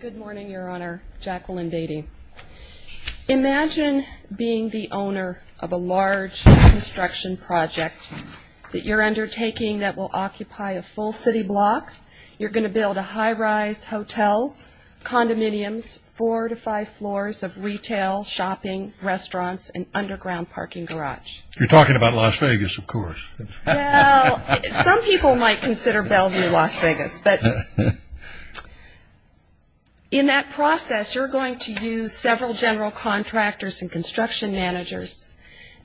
Good morning, Your Honor. Jacqueline Beatty. Imagine being the owner of a large construction project that you're undertaking that will occupy a full city block. You're going to build a high-rise hotel, condominiums, four to five floors of retail, shopping, restaurants, and underground parking garage. You're talking about Las Vegas, of course. Well, some people might consider Bellevue Las Vegas, but in that process you're going to use several general contractors and construction managers,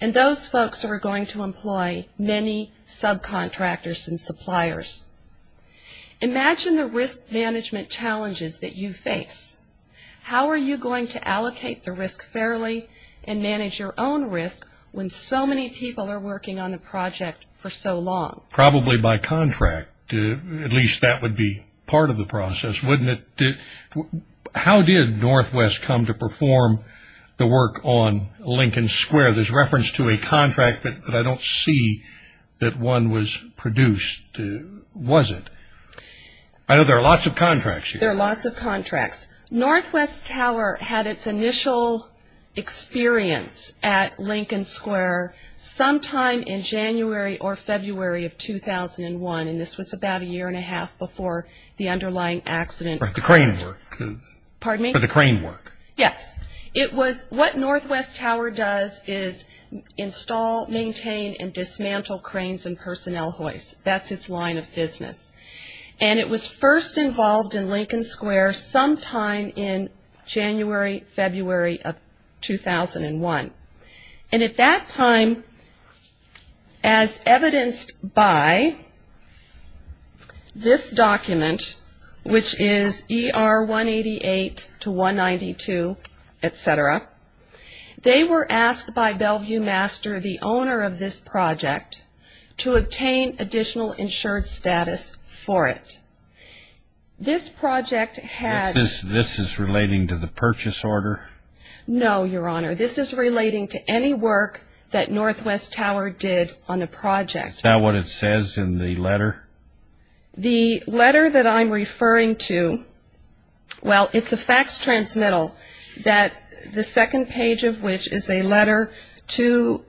and those folks are going to employ many subcontractors and suppliers. Imagine the risk management challenges that you face. How are you going to allocate the risk fairly and manage your own risk when so many people are working on the project for so long? Probably by contract. At least that would be part of the process, wouldn't it? How did Northwest come to perform the work on Lincoln Square? There's reference to a contract, but I don't see that one was produced, was it? I know there are lots of contracts here. There are lots of contracts. Northwest Tower had its initial experience at Lincoln Square sometime in January or February of 2001, and this was about a year and a half before the underlying accident. The crane work. Pardon me? The crane work. Yes. What Northwest Tower does is install, maintain, and dismantle cranes and personnel hoists. That's its line of business. And it was first involved in Lincoln Square sometime in January, February of 2001. And at that time, as evidenced by this document, which is ER 188 to 192, et cetera, they were asked by Bellevue Master, the owner of this project, to obtain additional insured status for it. This project had This is relating to the purchase order? No, Your Honor. This is relating to any work that Northwest Tower did on the project. Is that what it says in the letter? The letter that I'm referring to, well, it's a fax transmittal that the second page of which is a letter to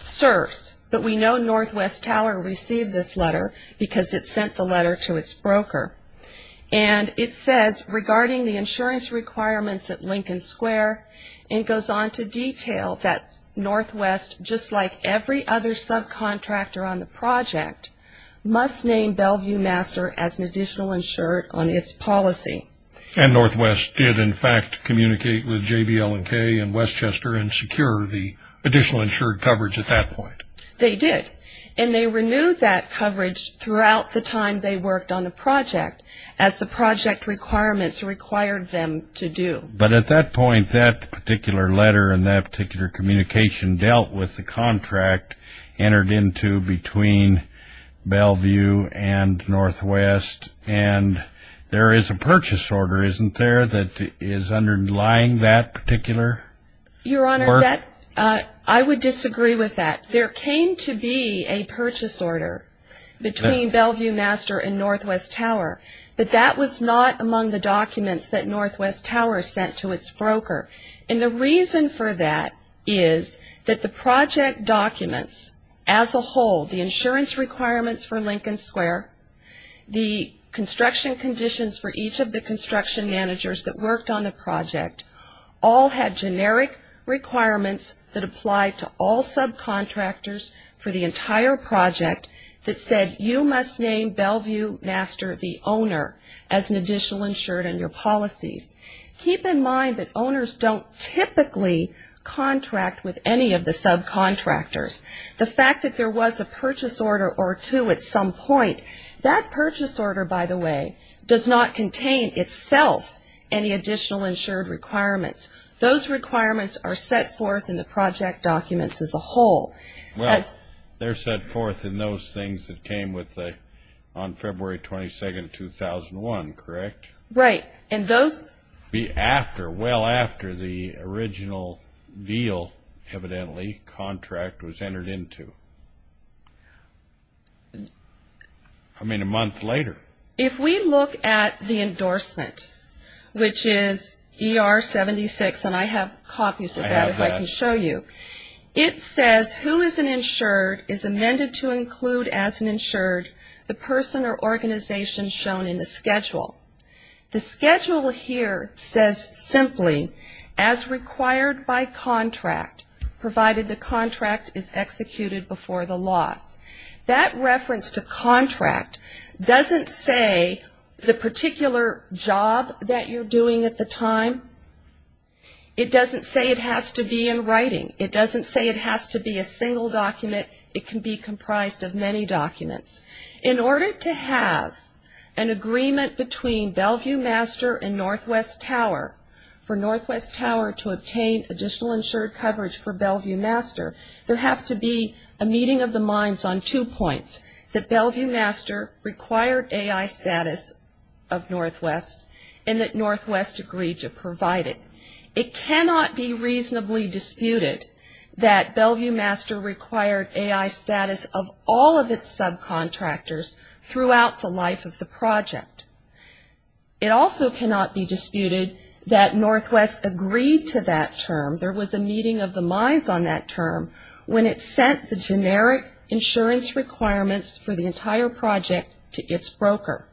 SERS, but we know Northwest Tower received this letter because it sent the letter to its broker. And it says, Regarding the insurance requirements at Lincoln Square, and it goes on to detail that Northwest, just like every other subcontractor on the project, must name Bellevue Master as an additional insured on its policy. And Northwest did, in fact, communicate with JBL and K and Westchester and secure the additional insured coverage at that point. They did. And they renewed that coverage throughout the time they worked on the project as the project requirements required them to do. But at that point, that particular letter and that particular communication dealt with the contract entered into between Bellevue and Northwest, and there is a purchase order, isn't there, that is underlying that particular work? Your Honor, I would disagree with that. There came to be a purchase order between Bellevue Master and Northwest Tower, but that was not among the documents that Northwest Tower sent to its broker. And the reason for that is that the project documents as a whole, the insurance requirements for Lincoln Square, the construction conditions for each of the construction managers that worked on the project, all had generic requirements that applied to all subcontractors for the entire project that said, you must name Bellevue Master the owner as an additional insured in your policies. Keep in mind that owners don't typically contract with any of the subcontractors. The fact that there was a purchase order or two at some point, that purchase order, by the way, does not contain itself any additional insured requirements. Those requirements are set forth in the project documents as a whole. Well, they're set forth in those things that came on February 22, 2001, correct? Right. And those would be after, well after, the original deal, evidently, contract was entered into. I mean, a month later. If we look at the endorsement, which is ER 76, and I have copies of that if I can show you, it says who is an insured is amended to include as an insured the person or organization shown in the schedule. The schedule here says simply, as required by contract, provided the contract is executed before the loss. That reference to contract doesn't say the particular job that you're doing at the time. It doesn't say it has to be in writing. It doesn't say it has to be a single document. It can be comprised of many documents. In order to have an agreement between Bellevue Master and Northwest Tower, for Northwest Tower to obtain additional insured coverage for Bellevue Master, there has to be a meeting of the minds on two points, that Bellevue Master required AI status of Northwest and that Northwest agreed to provide it. It cannot be reasonably disputed that Bellevue Master required AI status of all of its subcontractors throughout the life of the project. It also cannot be disputed that Northwest agreed to that term. There was a meeting of the minds on that term when it sent the generic insurance requirements for the entire project to its broker.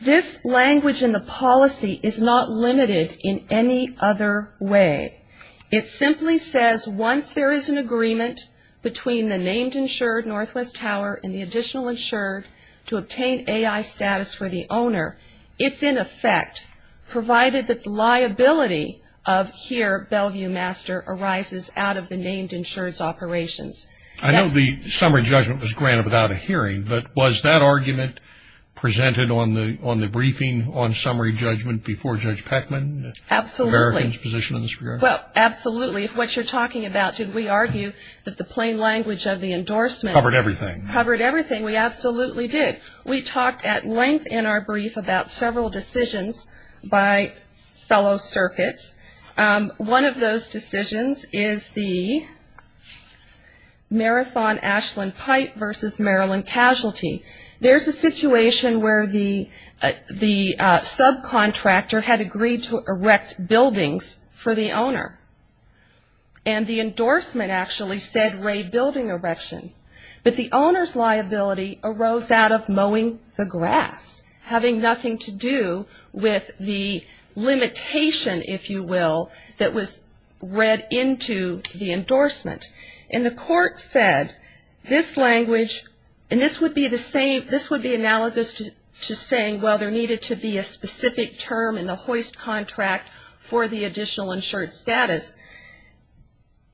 This language in the policy is not limited in any other way. It simply says once there is an agreement between the named insured, Northwest Tower, and the additional insured to obtain AI status for the owner, it's in effect provided that the liability of here, Bellevue Master, arises out of the named insured's operations. I know the summary judgment was granted without a hearing, but was that argument presented on the briefing on summary judgment before Judge Peckman? Absolutely. Americans' position in this regard? Well, absolutely. If what you're talking about, did we argue that the plain language of the endorsement? Covered everything. Covered everything. We absolutely did. We talked at length in our brief about several decisions by fellow circuits. One of those decisions is the Marathon Ashland Pipe versus Maryland Casualty. There's a situation where the subcontractor had agreed to erect buildings for the owner, and the endorsement actually said raid building erection. But the owner's liability arose out of mowing the grass, having nothing to do with the limitation, if you will, that was read into the endorsement. And the court said this language, and this would be analogous to saying, well, there needed to be a specific term in the hoist contract for the additional insured status.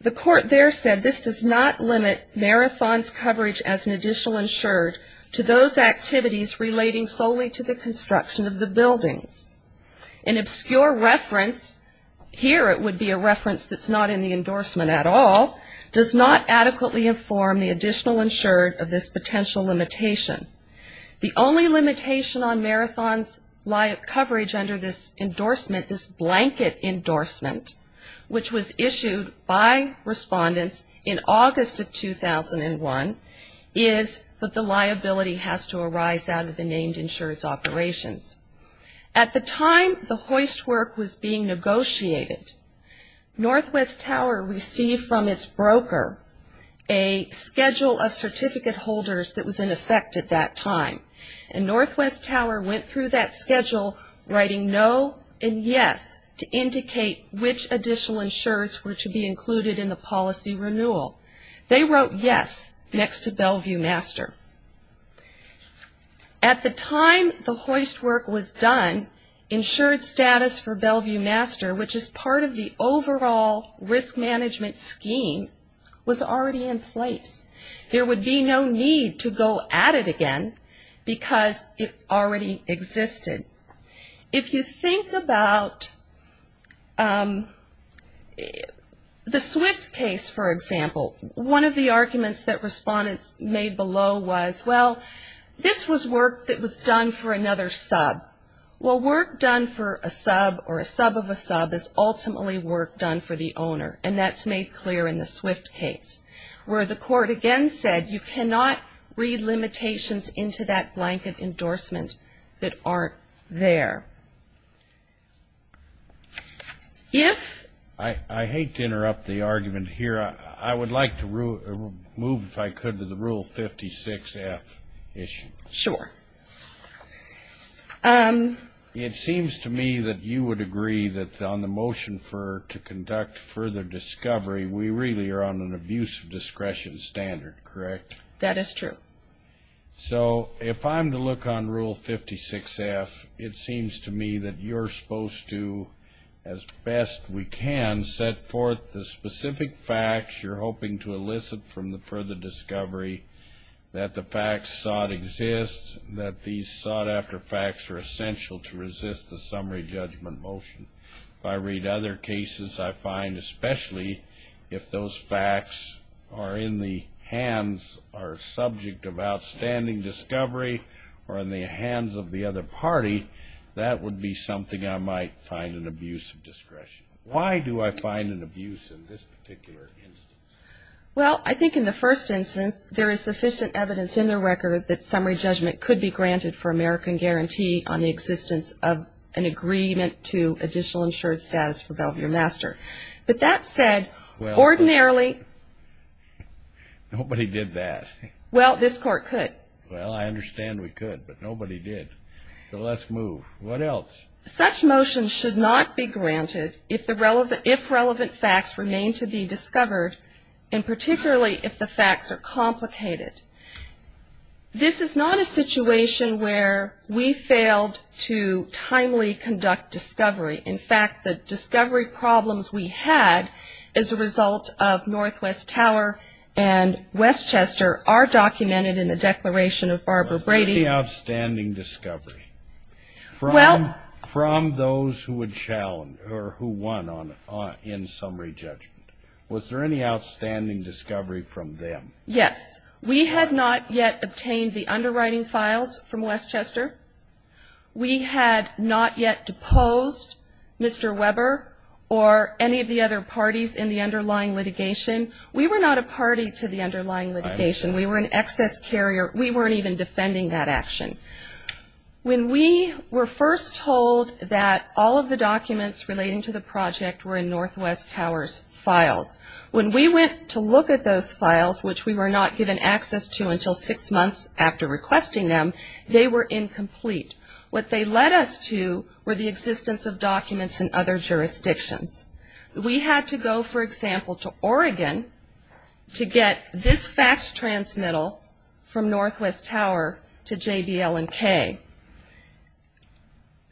The court there said this does not limit Marathon's coverage as an additional insured to those activities relating solely to the construction of the buildings. An obscure reference, here it would be a reference that's not in the endorsement at all, does not adequately inform the additional insured of this potential limitation. The only limitation on Marathon's coverage under this endorsement, this blanket endorsement, which was issued by respondents in August of 2001, is that the liability has to arise out of the named insured's operations. At the time the hoist work was being negotiated, Northwest Tower received from its broker a schedule of certificate holders that was in effect at that time. And Northwest Tower went through that schedule writing no and yes to indicate which additional insureds were to be included in the policy renewal. They wrote yes next to Bellevue Master. At the time the hoist work was done, insured status for Bellevue Master, which is part of the overall risk management scheme, was already in place. There would be no need to go at it again because it already existed. If you think about the Swift case, for example, one of the arguments that respondents made below was, well, this was work that was done for another sub. Well, work done for a sub or a sub of a sub is ultimately work done for the owner, and that's made clear in the Swift case, where the court, again, said, you cannot read limitations into that blanket endorsement that aren't there. If I hate to interrupt the argument here. I would like to move, if I could, to the Rule 56-F issue. Sure. It seems to me that you would agree that on the motion to conduct further discovery, we really are on an abuse of discretion standard, correct? That is true. So if I'm to look on Rule 56-F, it seems to me that you're supposed to, as best we can, set forth the specific facts you're hoping to elicit from the further discovery, that the facts sought exist, that these sought-after facts are essential to resist the summary judgment motion. If I read other cases, I find especially if those facts are in the hands or subject of outstanding discovery or in the hands of the other party, that would be something I might find an abuse of discretion. Why do I find an abuse in this particular instance? Well, I think in the first instance, there is sufficient evidence in the record that summary judgment could be granted for American guarantee on the existence of an agreement to additional insured status for Belvier-Master. But that said, ordinarily. Nobody did that. Well, this Court could. Well, I understand we could, but nobody did. So let's move. What else? Such motion should not be granted if relevant facts remain to be discovered, and particularly if the facts are complicated. This is not a situation where we failed to timely conduct discovery. In fact, the discovery problems we had as a result of Northwest Tower and Westchester are documented in the Declaration of Barbara Brady. Was there any outstanding discovery from those who won in summary judgment? Was there any outstanding discovery from them? Yes. We had not yet obtained the underwriting files from Westchester. We had not yet deposed Mr. Weber or any of the other parties in the underlying litigation. We were not a party to the underlying litigation. I understand. We were an excess carrier. We weren't even defending that action. When we were first told that all of the documents relating to the project were in Northwest Tower's files, when we went to look at those files, which we were not given access to until six months after requesting them, they were incomplete. What they led us to were the existence of documents in other jurisdictions. We had to go, for example, to Oregon to get this fax transmittal from Northwest Tower to JBL&K.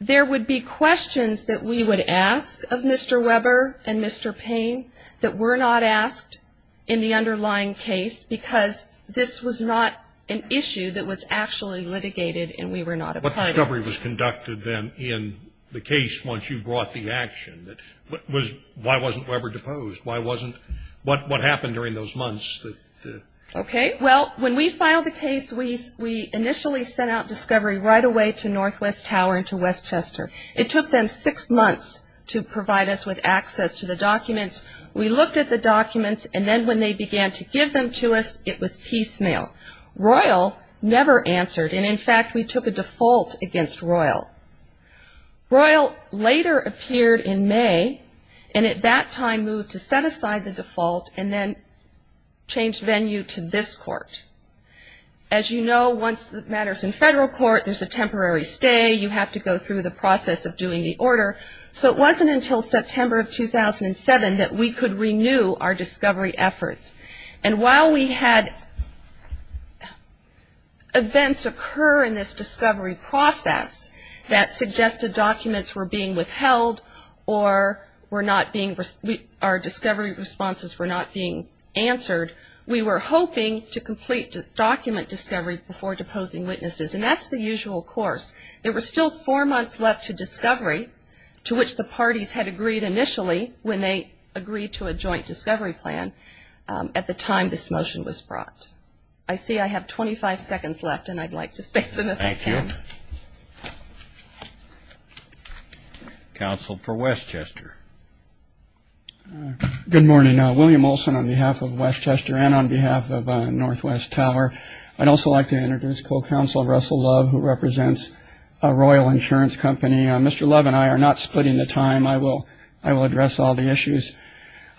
There would be questions that we would ask of Mr. Weber and Mr. Payne that were not asked in the underlying case because this was not an issue that was actually litigated and we were not a party. How much discovery was conducted then in the case once you brought the action? Why wasn't Weber deposed? What happened during those months? Okay. Well, when we filed the case, we initially sent out discovery right away to Northwest Tower and to Westchester. It took them six months to provide us with access to the documents. We looked at the documents, and then when they began to give them to us, it was piecemeal. Royal never answered, and, in fact, we took a default against Royal. Royal later appeared in May and at that time moved to set aside the default and then change venue to this court. As you know, once the matter's in federal court, there's a temporary stay. You have to go through the process of doing the order. So it wasn't until September of 2007 that we could renew our discovery efforts. And while we had events occur in this discovery process that suggested documents were being withheld or our discovery responses were not being answered, we were hoping to complete document discovery before deposing witnesses, and that's the usual course. There were still four months left to discovery, to which the parties had agreed initially when they agreed to a joint discovery plan at the time this motion was brought. I see I have 25 seconds left, and I'd like to say something if I can. Thank you. Counsel for Westchester. Good morning. William Olson on behalf of Westchester and on behalf of Northwest Tower. I'd also like to introduce co-counsel Russell Love, who represents Royal Insurance Company. Mr. Love and I are not splitting the time. I will address all the issues.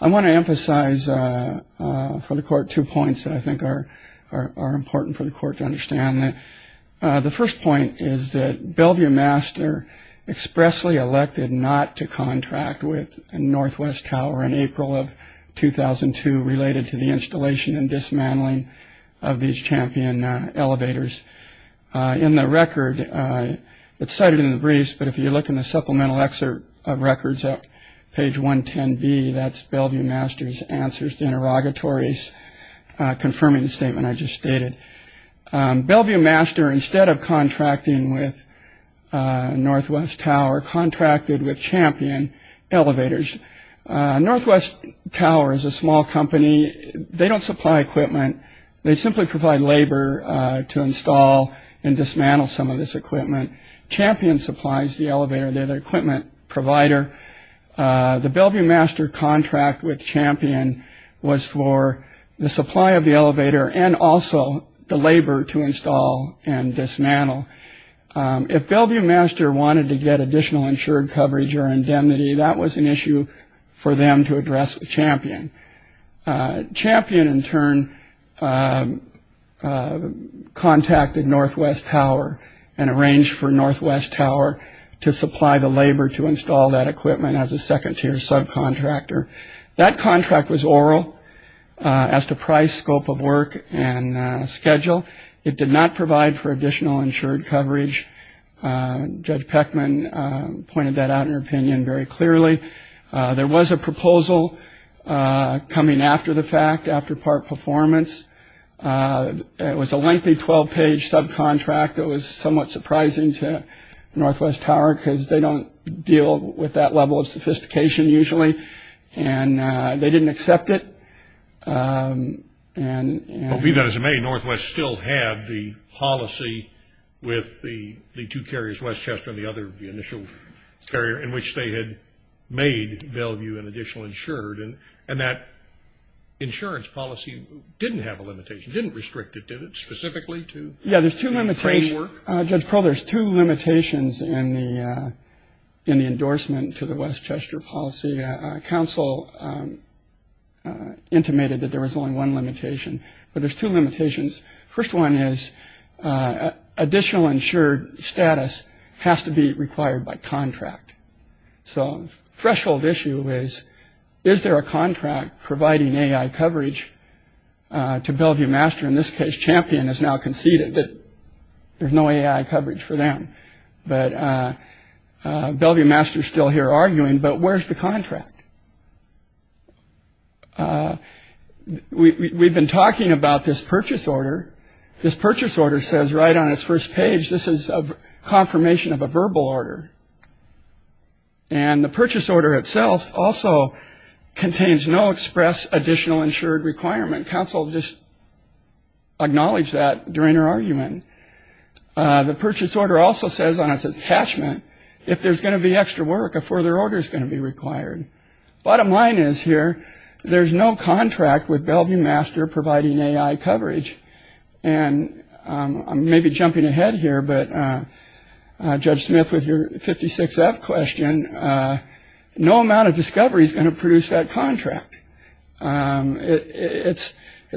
I want to emphasize for the court two points that I think are important for the court to understand. The first point is that Bellevue Master expressly elected not to contract with Northwest Tower in April of 2002 related to the installation and dismantling of these Champion elevators. In the record, it's cited in the briefs, but if you look in the supplemental excerpt of records at page 110B, that's Bellevue Master's answers to interrogatories confirming the statement I just stated. Bellevue Master, instead of contracting with Northwest Tower, contracted with Champion elevators. Northwest Tower is a small company. They don't supply equipment. They simply provide labor to install and dismantle some of this equipment. Champion supplies the elevator. They're the equipment provider. The Bellevue Master contract with Champion was for the supply of the elevator and also the labor to install and dismantle. If Bellevue Master wanted to get additional insured coverage or indemnity, that was an issue for them to address with Champion. Champion, in turn, contacted Northwest Tower and arranged for Northwest Tower to supply the labor to install that equipment as a second-tier subcontractor. That contract was oral as to price, scope of work, and schedule. It did not provide for additional insured coverage. Judge Peckman pointed that out in her opinion very clearly. There was a proposal coming after the fact, after part performance. It was a lengthy 12-page subcontract. It was somewhat surprising to Northwest Tower because they don't deal with that level of sophistication usually, and they didn't accept it. But be that as it may, Northwest still had the policy with the two carriers, Westchester and the other initial carrier, in which they had made Bellevue an additional insured, and that insurance policy didn't have a limitation, didn't restrict it, did it, specifically to the framework? Yeah, there's two limitations. Judge Crowl, there's two limitations in the endorsement to the Westchester policy. Council intimated that there was only one limitation, but there's two limitations. First one is additional insured status has to be required by contract. So the threshold issue is, is there a contract providing AI coverage to Bellevue Master? In this case, Champion has now conceded that there's no AI coverage for them. But Bellevue Master is still here arguing, but where's the contract? We've been talking about this purchase order. This purchase order says right on its first page, this is a confirmation of a verbal order. And the purchase order itself also contains no express additional insured requirement. Council just acknowledge that during her argument. The purchase order also says on its attachment, if there's going to be extra work, a further order is going to be required. Bottom line is here, there's no contract with Bellevue Master providing AI coverage. And I'm maybe jumping ahead here, but Judge Smith, with your 56F question, no amount of discovery is going to produce that contract. It's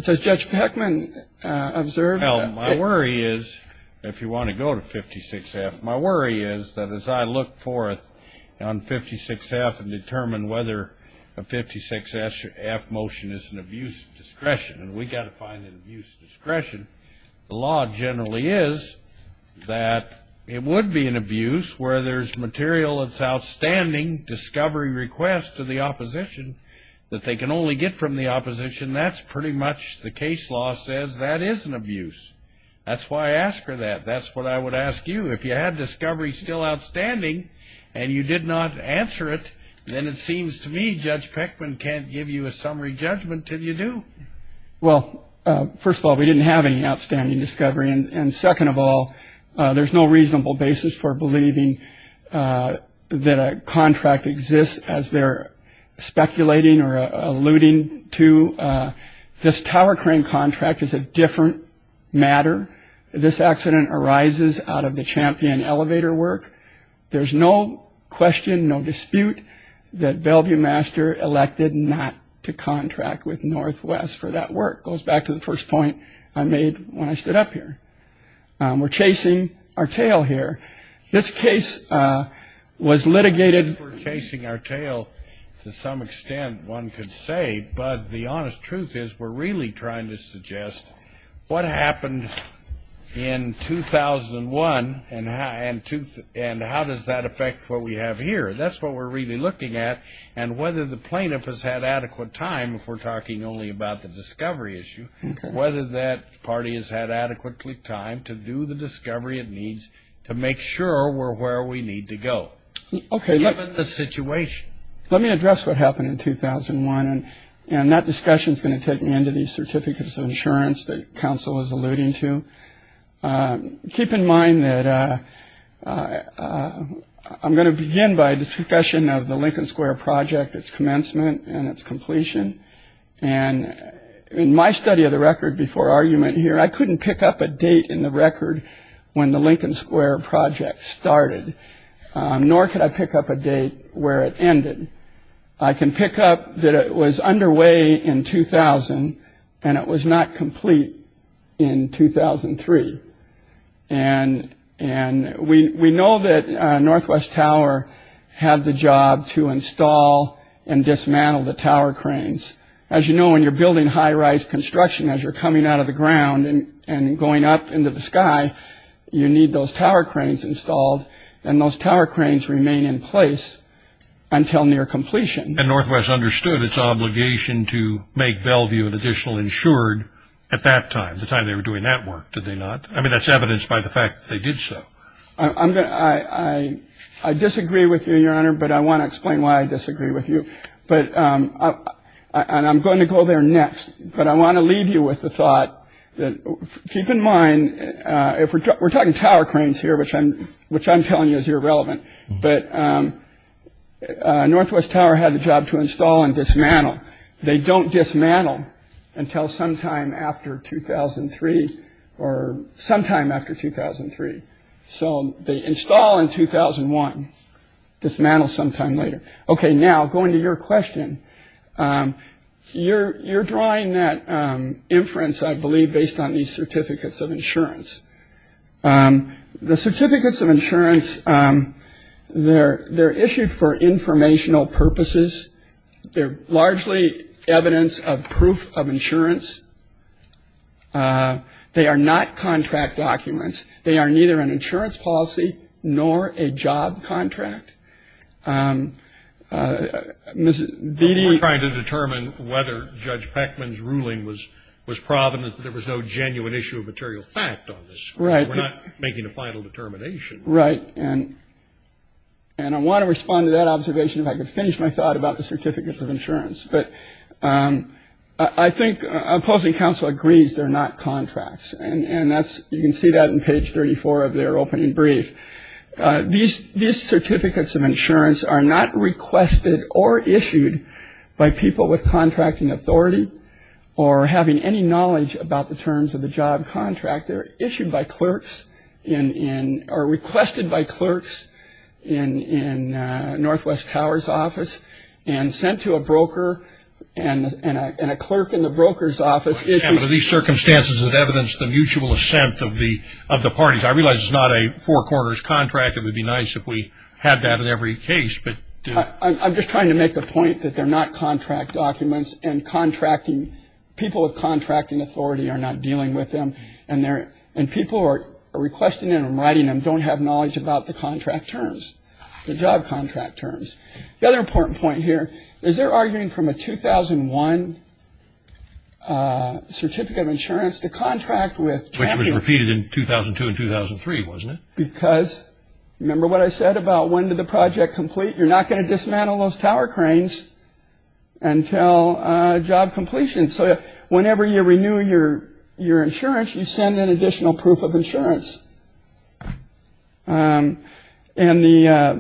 as Judge Peckman observed. Well, my worry is, if you want to go to 56F, my worry is that as I look forth on 56F and determine whether a 56F motion is an abuse of discretion, and we've got to find an abuse of discretion, the law generally is that it would be an abuse where there's material that's outstanding, discovery request to the opposition that they can only get from the opposition. That's pretty much the case law says that is an abuse. That's why I ask her that. That's what I would ask you. If you had discovery still outstanding and you did not answer it, then it seems to me Judge Peckman can't give you a summary judgment until you do. Well, first of all, we didn't have any outstanding discovery. And second of all, there's no reasonable basis for believing that a contract exists as they're speculating or alluding to. This tower crane contract is a different matter. This accident arises out of the champion elevator work. There's no question, no dispute, that Bellevue Master elected not to contract with Northwest for that work. It goes back to the first point I made when I stood up here. We're chasing our tail here. This case was litigated. We're chasing our tail to some extent one could say, but the honest truth is we're really trying to suggest what happened in 2001 and how does that affect what we have here. That's what we're really looking at. And whether the plaintiff has had adequate time, if we're talking only about the discovery issue, whether that party has had adequately time to do the discovery it needs to make sure we're where we need to go given the situation. Let me address what happened in 2001, and that discussion is going to take me into the certificates of insurance that counsel is alluding to. Keep in mind that I'm going to begin by the discussion of the Lincoln Square project, its commencement and its completion. And in my study of the record before argument here, I couldn't pick up a date in the record when the Lincoln Square project started, nor could I pick up a date where it ended. I can pick up that it was underway in 2000 and it was not complete in 2003. And we know that Northwest Tower had the job to install and dismantle the tower cranes. As you know, when you're building high-rise construction, as you're coming out of the ground and going up into the sky, you need those tower cranes installed, and those tower cranes remain in place until near completion. And Northwest understood its obligation to make Bellevue an additional insured at that time, the time they were doing that work, did they not? I mean, that's evidenced by the fact that they did so. I disagree with you, Your Honor, but I want to explain why I disagree with you. But I'm going to go there next. But I want to leave you with the thought that keep in mind if we're talking tower cranes here, which I'm which I'm telling you is irrelevant, but Northwest Tower had the job to install and dismantle. They don't dismantle until sometime after 2003 or sometime after 2003. So they install in 2001, dismantle sometime later. Okay, now going to your question, you're drawing that inference, I believe, based on these certificates of insurance. The certificates of insurance, they're issued for informational purposes. They're largely evidence of proof of insurance. They are not contract documents. They are neither an insurance policy nor a job contract. Mr. Bede. We're trying to determine whether Judge Peckman's ruling was provident that there was no genuine issue of material fact on this. Right. We're not making a final determination. Right. And I want to respond to that observation if I could finish my thought about the certificates of insurance. But I think opposing counsel agrees they're not contracts. And that's you can see that in page 34 of their opening brief. These certificates of insurance are not requested or issued by people with contracting authority or having any knowledge about the terms of the job contract. They're issued by clerks or requested by clerks in Northwest Tower's office and sent to a broker and a clerk in the broker's office issues. Under these circumstances of evidence, the mutual assent of the parties. I realize it's not a four-quarters contract. It would be nice if we had that in every case. I'm just trying to make the point that they're not contract documents and people with contracting authority are not dealing with them and they're and people are requesting it and writing them don't have knowledge about the contract terms, the job contract terms. The other important point here is they're arguing from a 2001 certificate of insurance to contract with. Which was repeated in 2002 and 2003, wasn't it? Because remember what I said about when did the project complete? You're not going to dismantle those tower cranes until job completion. So whenever you renew your insurance, you send an additional proof of insurance. And I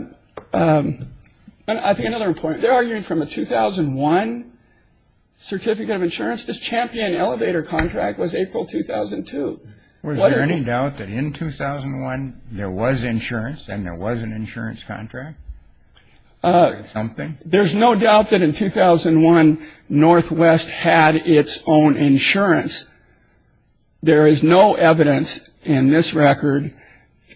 think another point, they're arguing from a 2001 certificate of insurance. This champion elevator contract was April 2002. Was there any doubt that in 2001 there was insurance and there was an insurance contract? Something. There's no doubt that in 2001, Northwest had its own insurance. There is no evidence in this record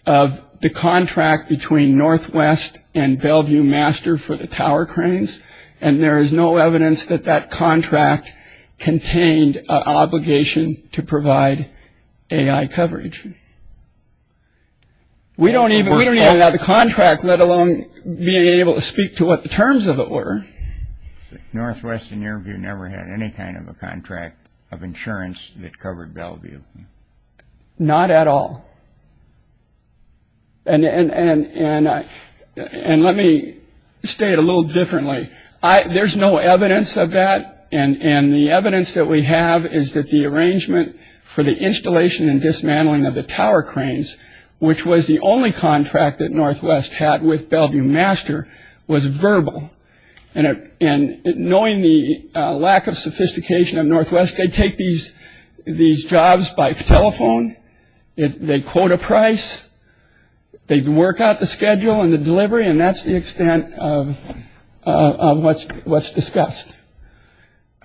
of the contract between Northwest and Bellevue Master for the tower cranes. And there is no evidence that that contract contained an obligation to provide AI coverage. We don't even have the contract, let alone being able to speak to what the terms of it were. Northwest in your view never had any kind of a contract of insurance that covered Bellevue. Not at all. And let me state a little differently. There's no evidence of that. And the evidence that we have is that the arrangement for the installation and dismantling of the tower cranes, which was the only contract that Northwest had with Bellevue Master, was verbal. And knowing the lack of sophistication of Northwest, they take these jobs by telephone, they quote a price, they work out the schedule and the delivery, and that's the extent of what's what's discussed.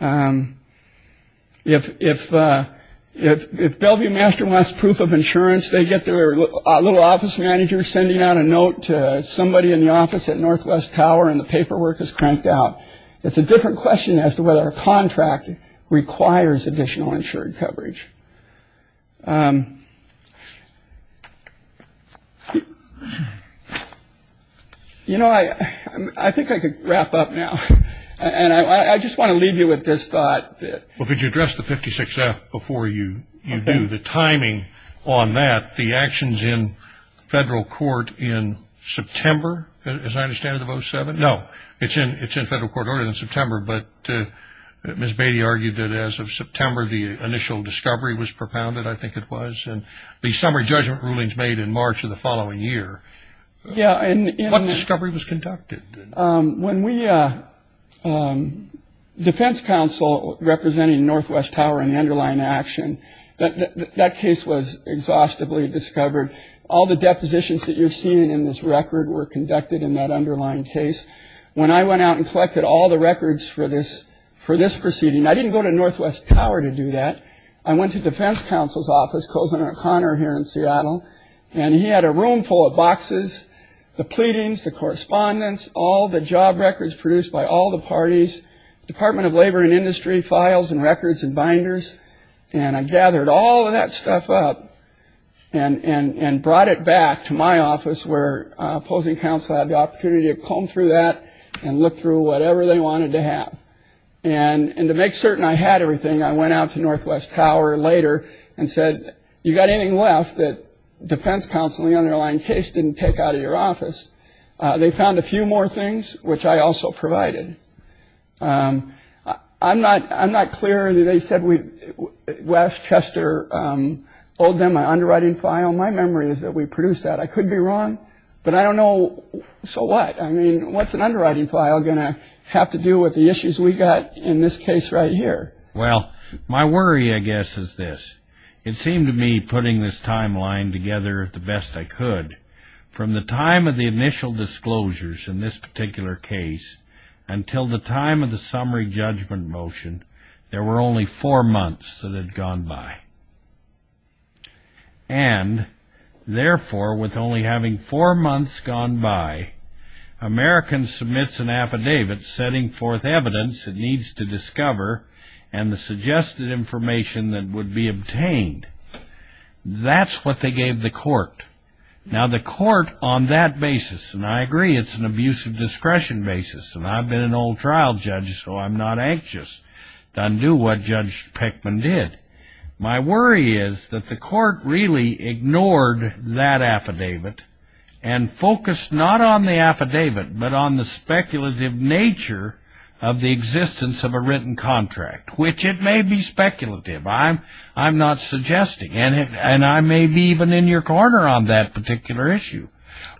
If if if if Bellevue Master wants proof of insurance, they get their little office manager sending out a note to somebody in the office at Northwest Tower and the paperwork is cranked out. It's a different question as to whether a contract requires additional insured coverage. You know, I think I could wrap up now. And I just want to leave you with this thought. Well, could you address the 56F before you do? The timing on that, the actions in federal court in September, as I understand it, of 07? No, it's in it's in federal court order in September. But Ms. Beatty argued that as of September, the initial discovery was propounded, I think it was. And the summary judgment rulings made in March of the following year. Yeah. And what discovery was conducted? When we defense counsel representing Northwest Tower and the underlying action, that case was exhaustively discovered. All the depositions that you're seeing in this record were conducted in that underlying case. When I went out and collected all the records for this, for this proceeding, I didn't go to Northwest Tower to do that. I went to defense counsel's office. Colson O'Connor here in Seattle. And he had a room full of boxes, the pleadings, the correspondence, all the job records produced by all the parties, Department of Labor and Industry files and records and binders. And I gathered all of that stuff up and brought it back to my office where opposing counsel had the opportunity to comb through that and look through whatever they wanted to have. And to make certain I had everything, I went out to Northwest Tower later and said, you got anything left that defense counseling underlying case didn't take out of your office? They found a few more things, which I also provided. I'm not I'm not clear. They said Westchester owed them an underwriting file. My memory is that we produced that. I could be wrong, but I don't know. So what? I mean, what's an underwriting file going to have to do with the issues we got in this case right here? Well, my worry, I guess, is this. It seemed to me putting this timeline together the best I could from the time of the initial disclosures in this particular case until the time of the summary judgment motion, there were only four months that had gone by. And therefore, with only having four months gone by, Americans submits an affidavit setting forth evidence it needs to discover and the suggested information that would be obtained. Now, the court on that basis, and I agree it's an abuse of discretion basis, and I've been an old trial judge, so I'm not anxious to undo what Judge Pickman did. My worry is that the court really ignored that affidavit and focused not on the affidavit, but on the speculative nature of the existence of a written contract, which it may be speculative. I'm not suggesting, and I may be even in your corner on that particular issue.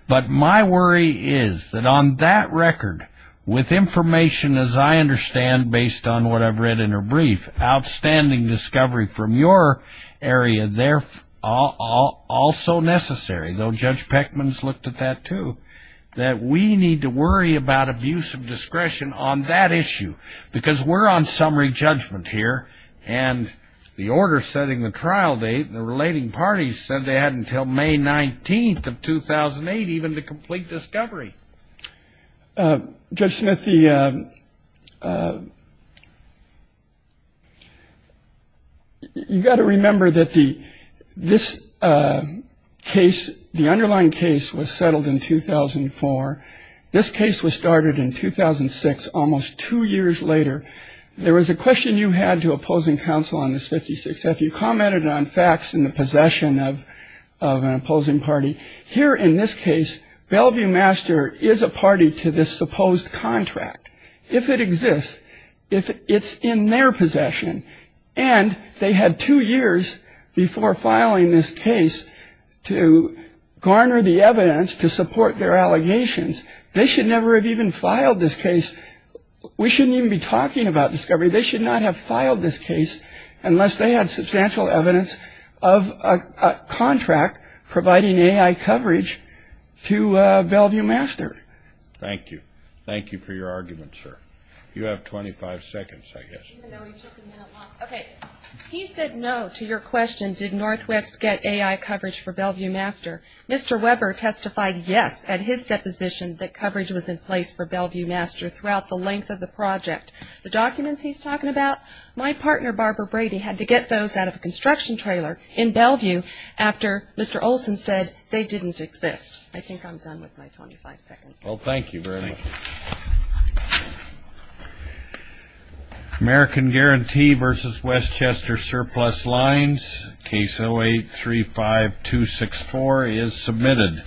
But my worry is that on that record, with information, as I understand, based on what I've read in her brief, outstanding discovery from your area, also necessary, though Judge Pickman's looked at that too, that we need to worry about abuse of discretion on that issue, because we're on summary judgment here, and the order setting the trial date, the relating parties said they had until May 19th of 2008 even to complete discovery. Judge Smith, you've got to remember that this case, the underlying case, was settled in 2004. This case was started in 2006, almost two years later. There was a question you had to opposing counsel on this 56th. You commented on facts and the possession of an opposing party. Here in this case, Bellevue Master is a party to this supposed contract, if it exists, if it's in their possession. And they had two years before filing this case to garner the evidence to support their allegations. They should never have even filed this case. We shouldn't even be talking about discovery. They should not have filed this case unless they had substantial evidence of a contract providing AI coverage to Bellevue Master. Thank you. Thank you for your argument, sir. You have 25 seconds, I guess. Okay. He said no to your question, did Northwest get AI coverage for Bellevue Master. Mr. Weber testified yes at his deposition that coverage was in place for Bellevue Master throughout the length of the project. The documents he's talking about, my partner, Barbara Brady, had to get those out of a construction trailer in Bellevue after Mr. Olson said they didn't exist. I think I'm done with my 25 seconds. Well, thank you very much. American Guarantee v. Westchester Surplus Lines, Case 08-35264 is submitted.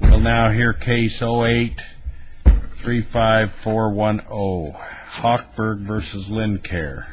We'll now hear Case 08-35410, Hochberg v. Lincare.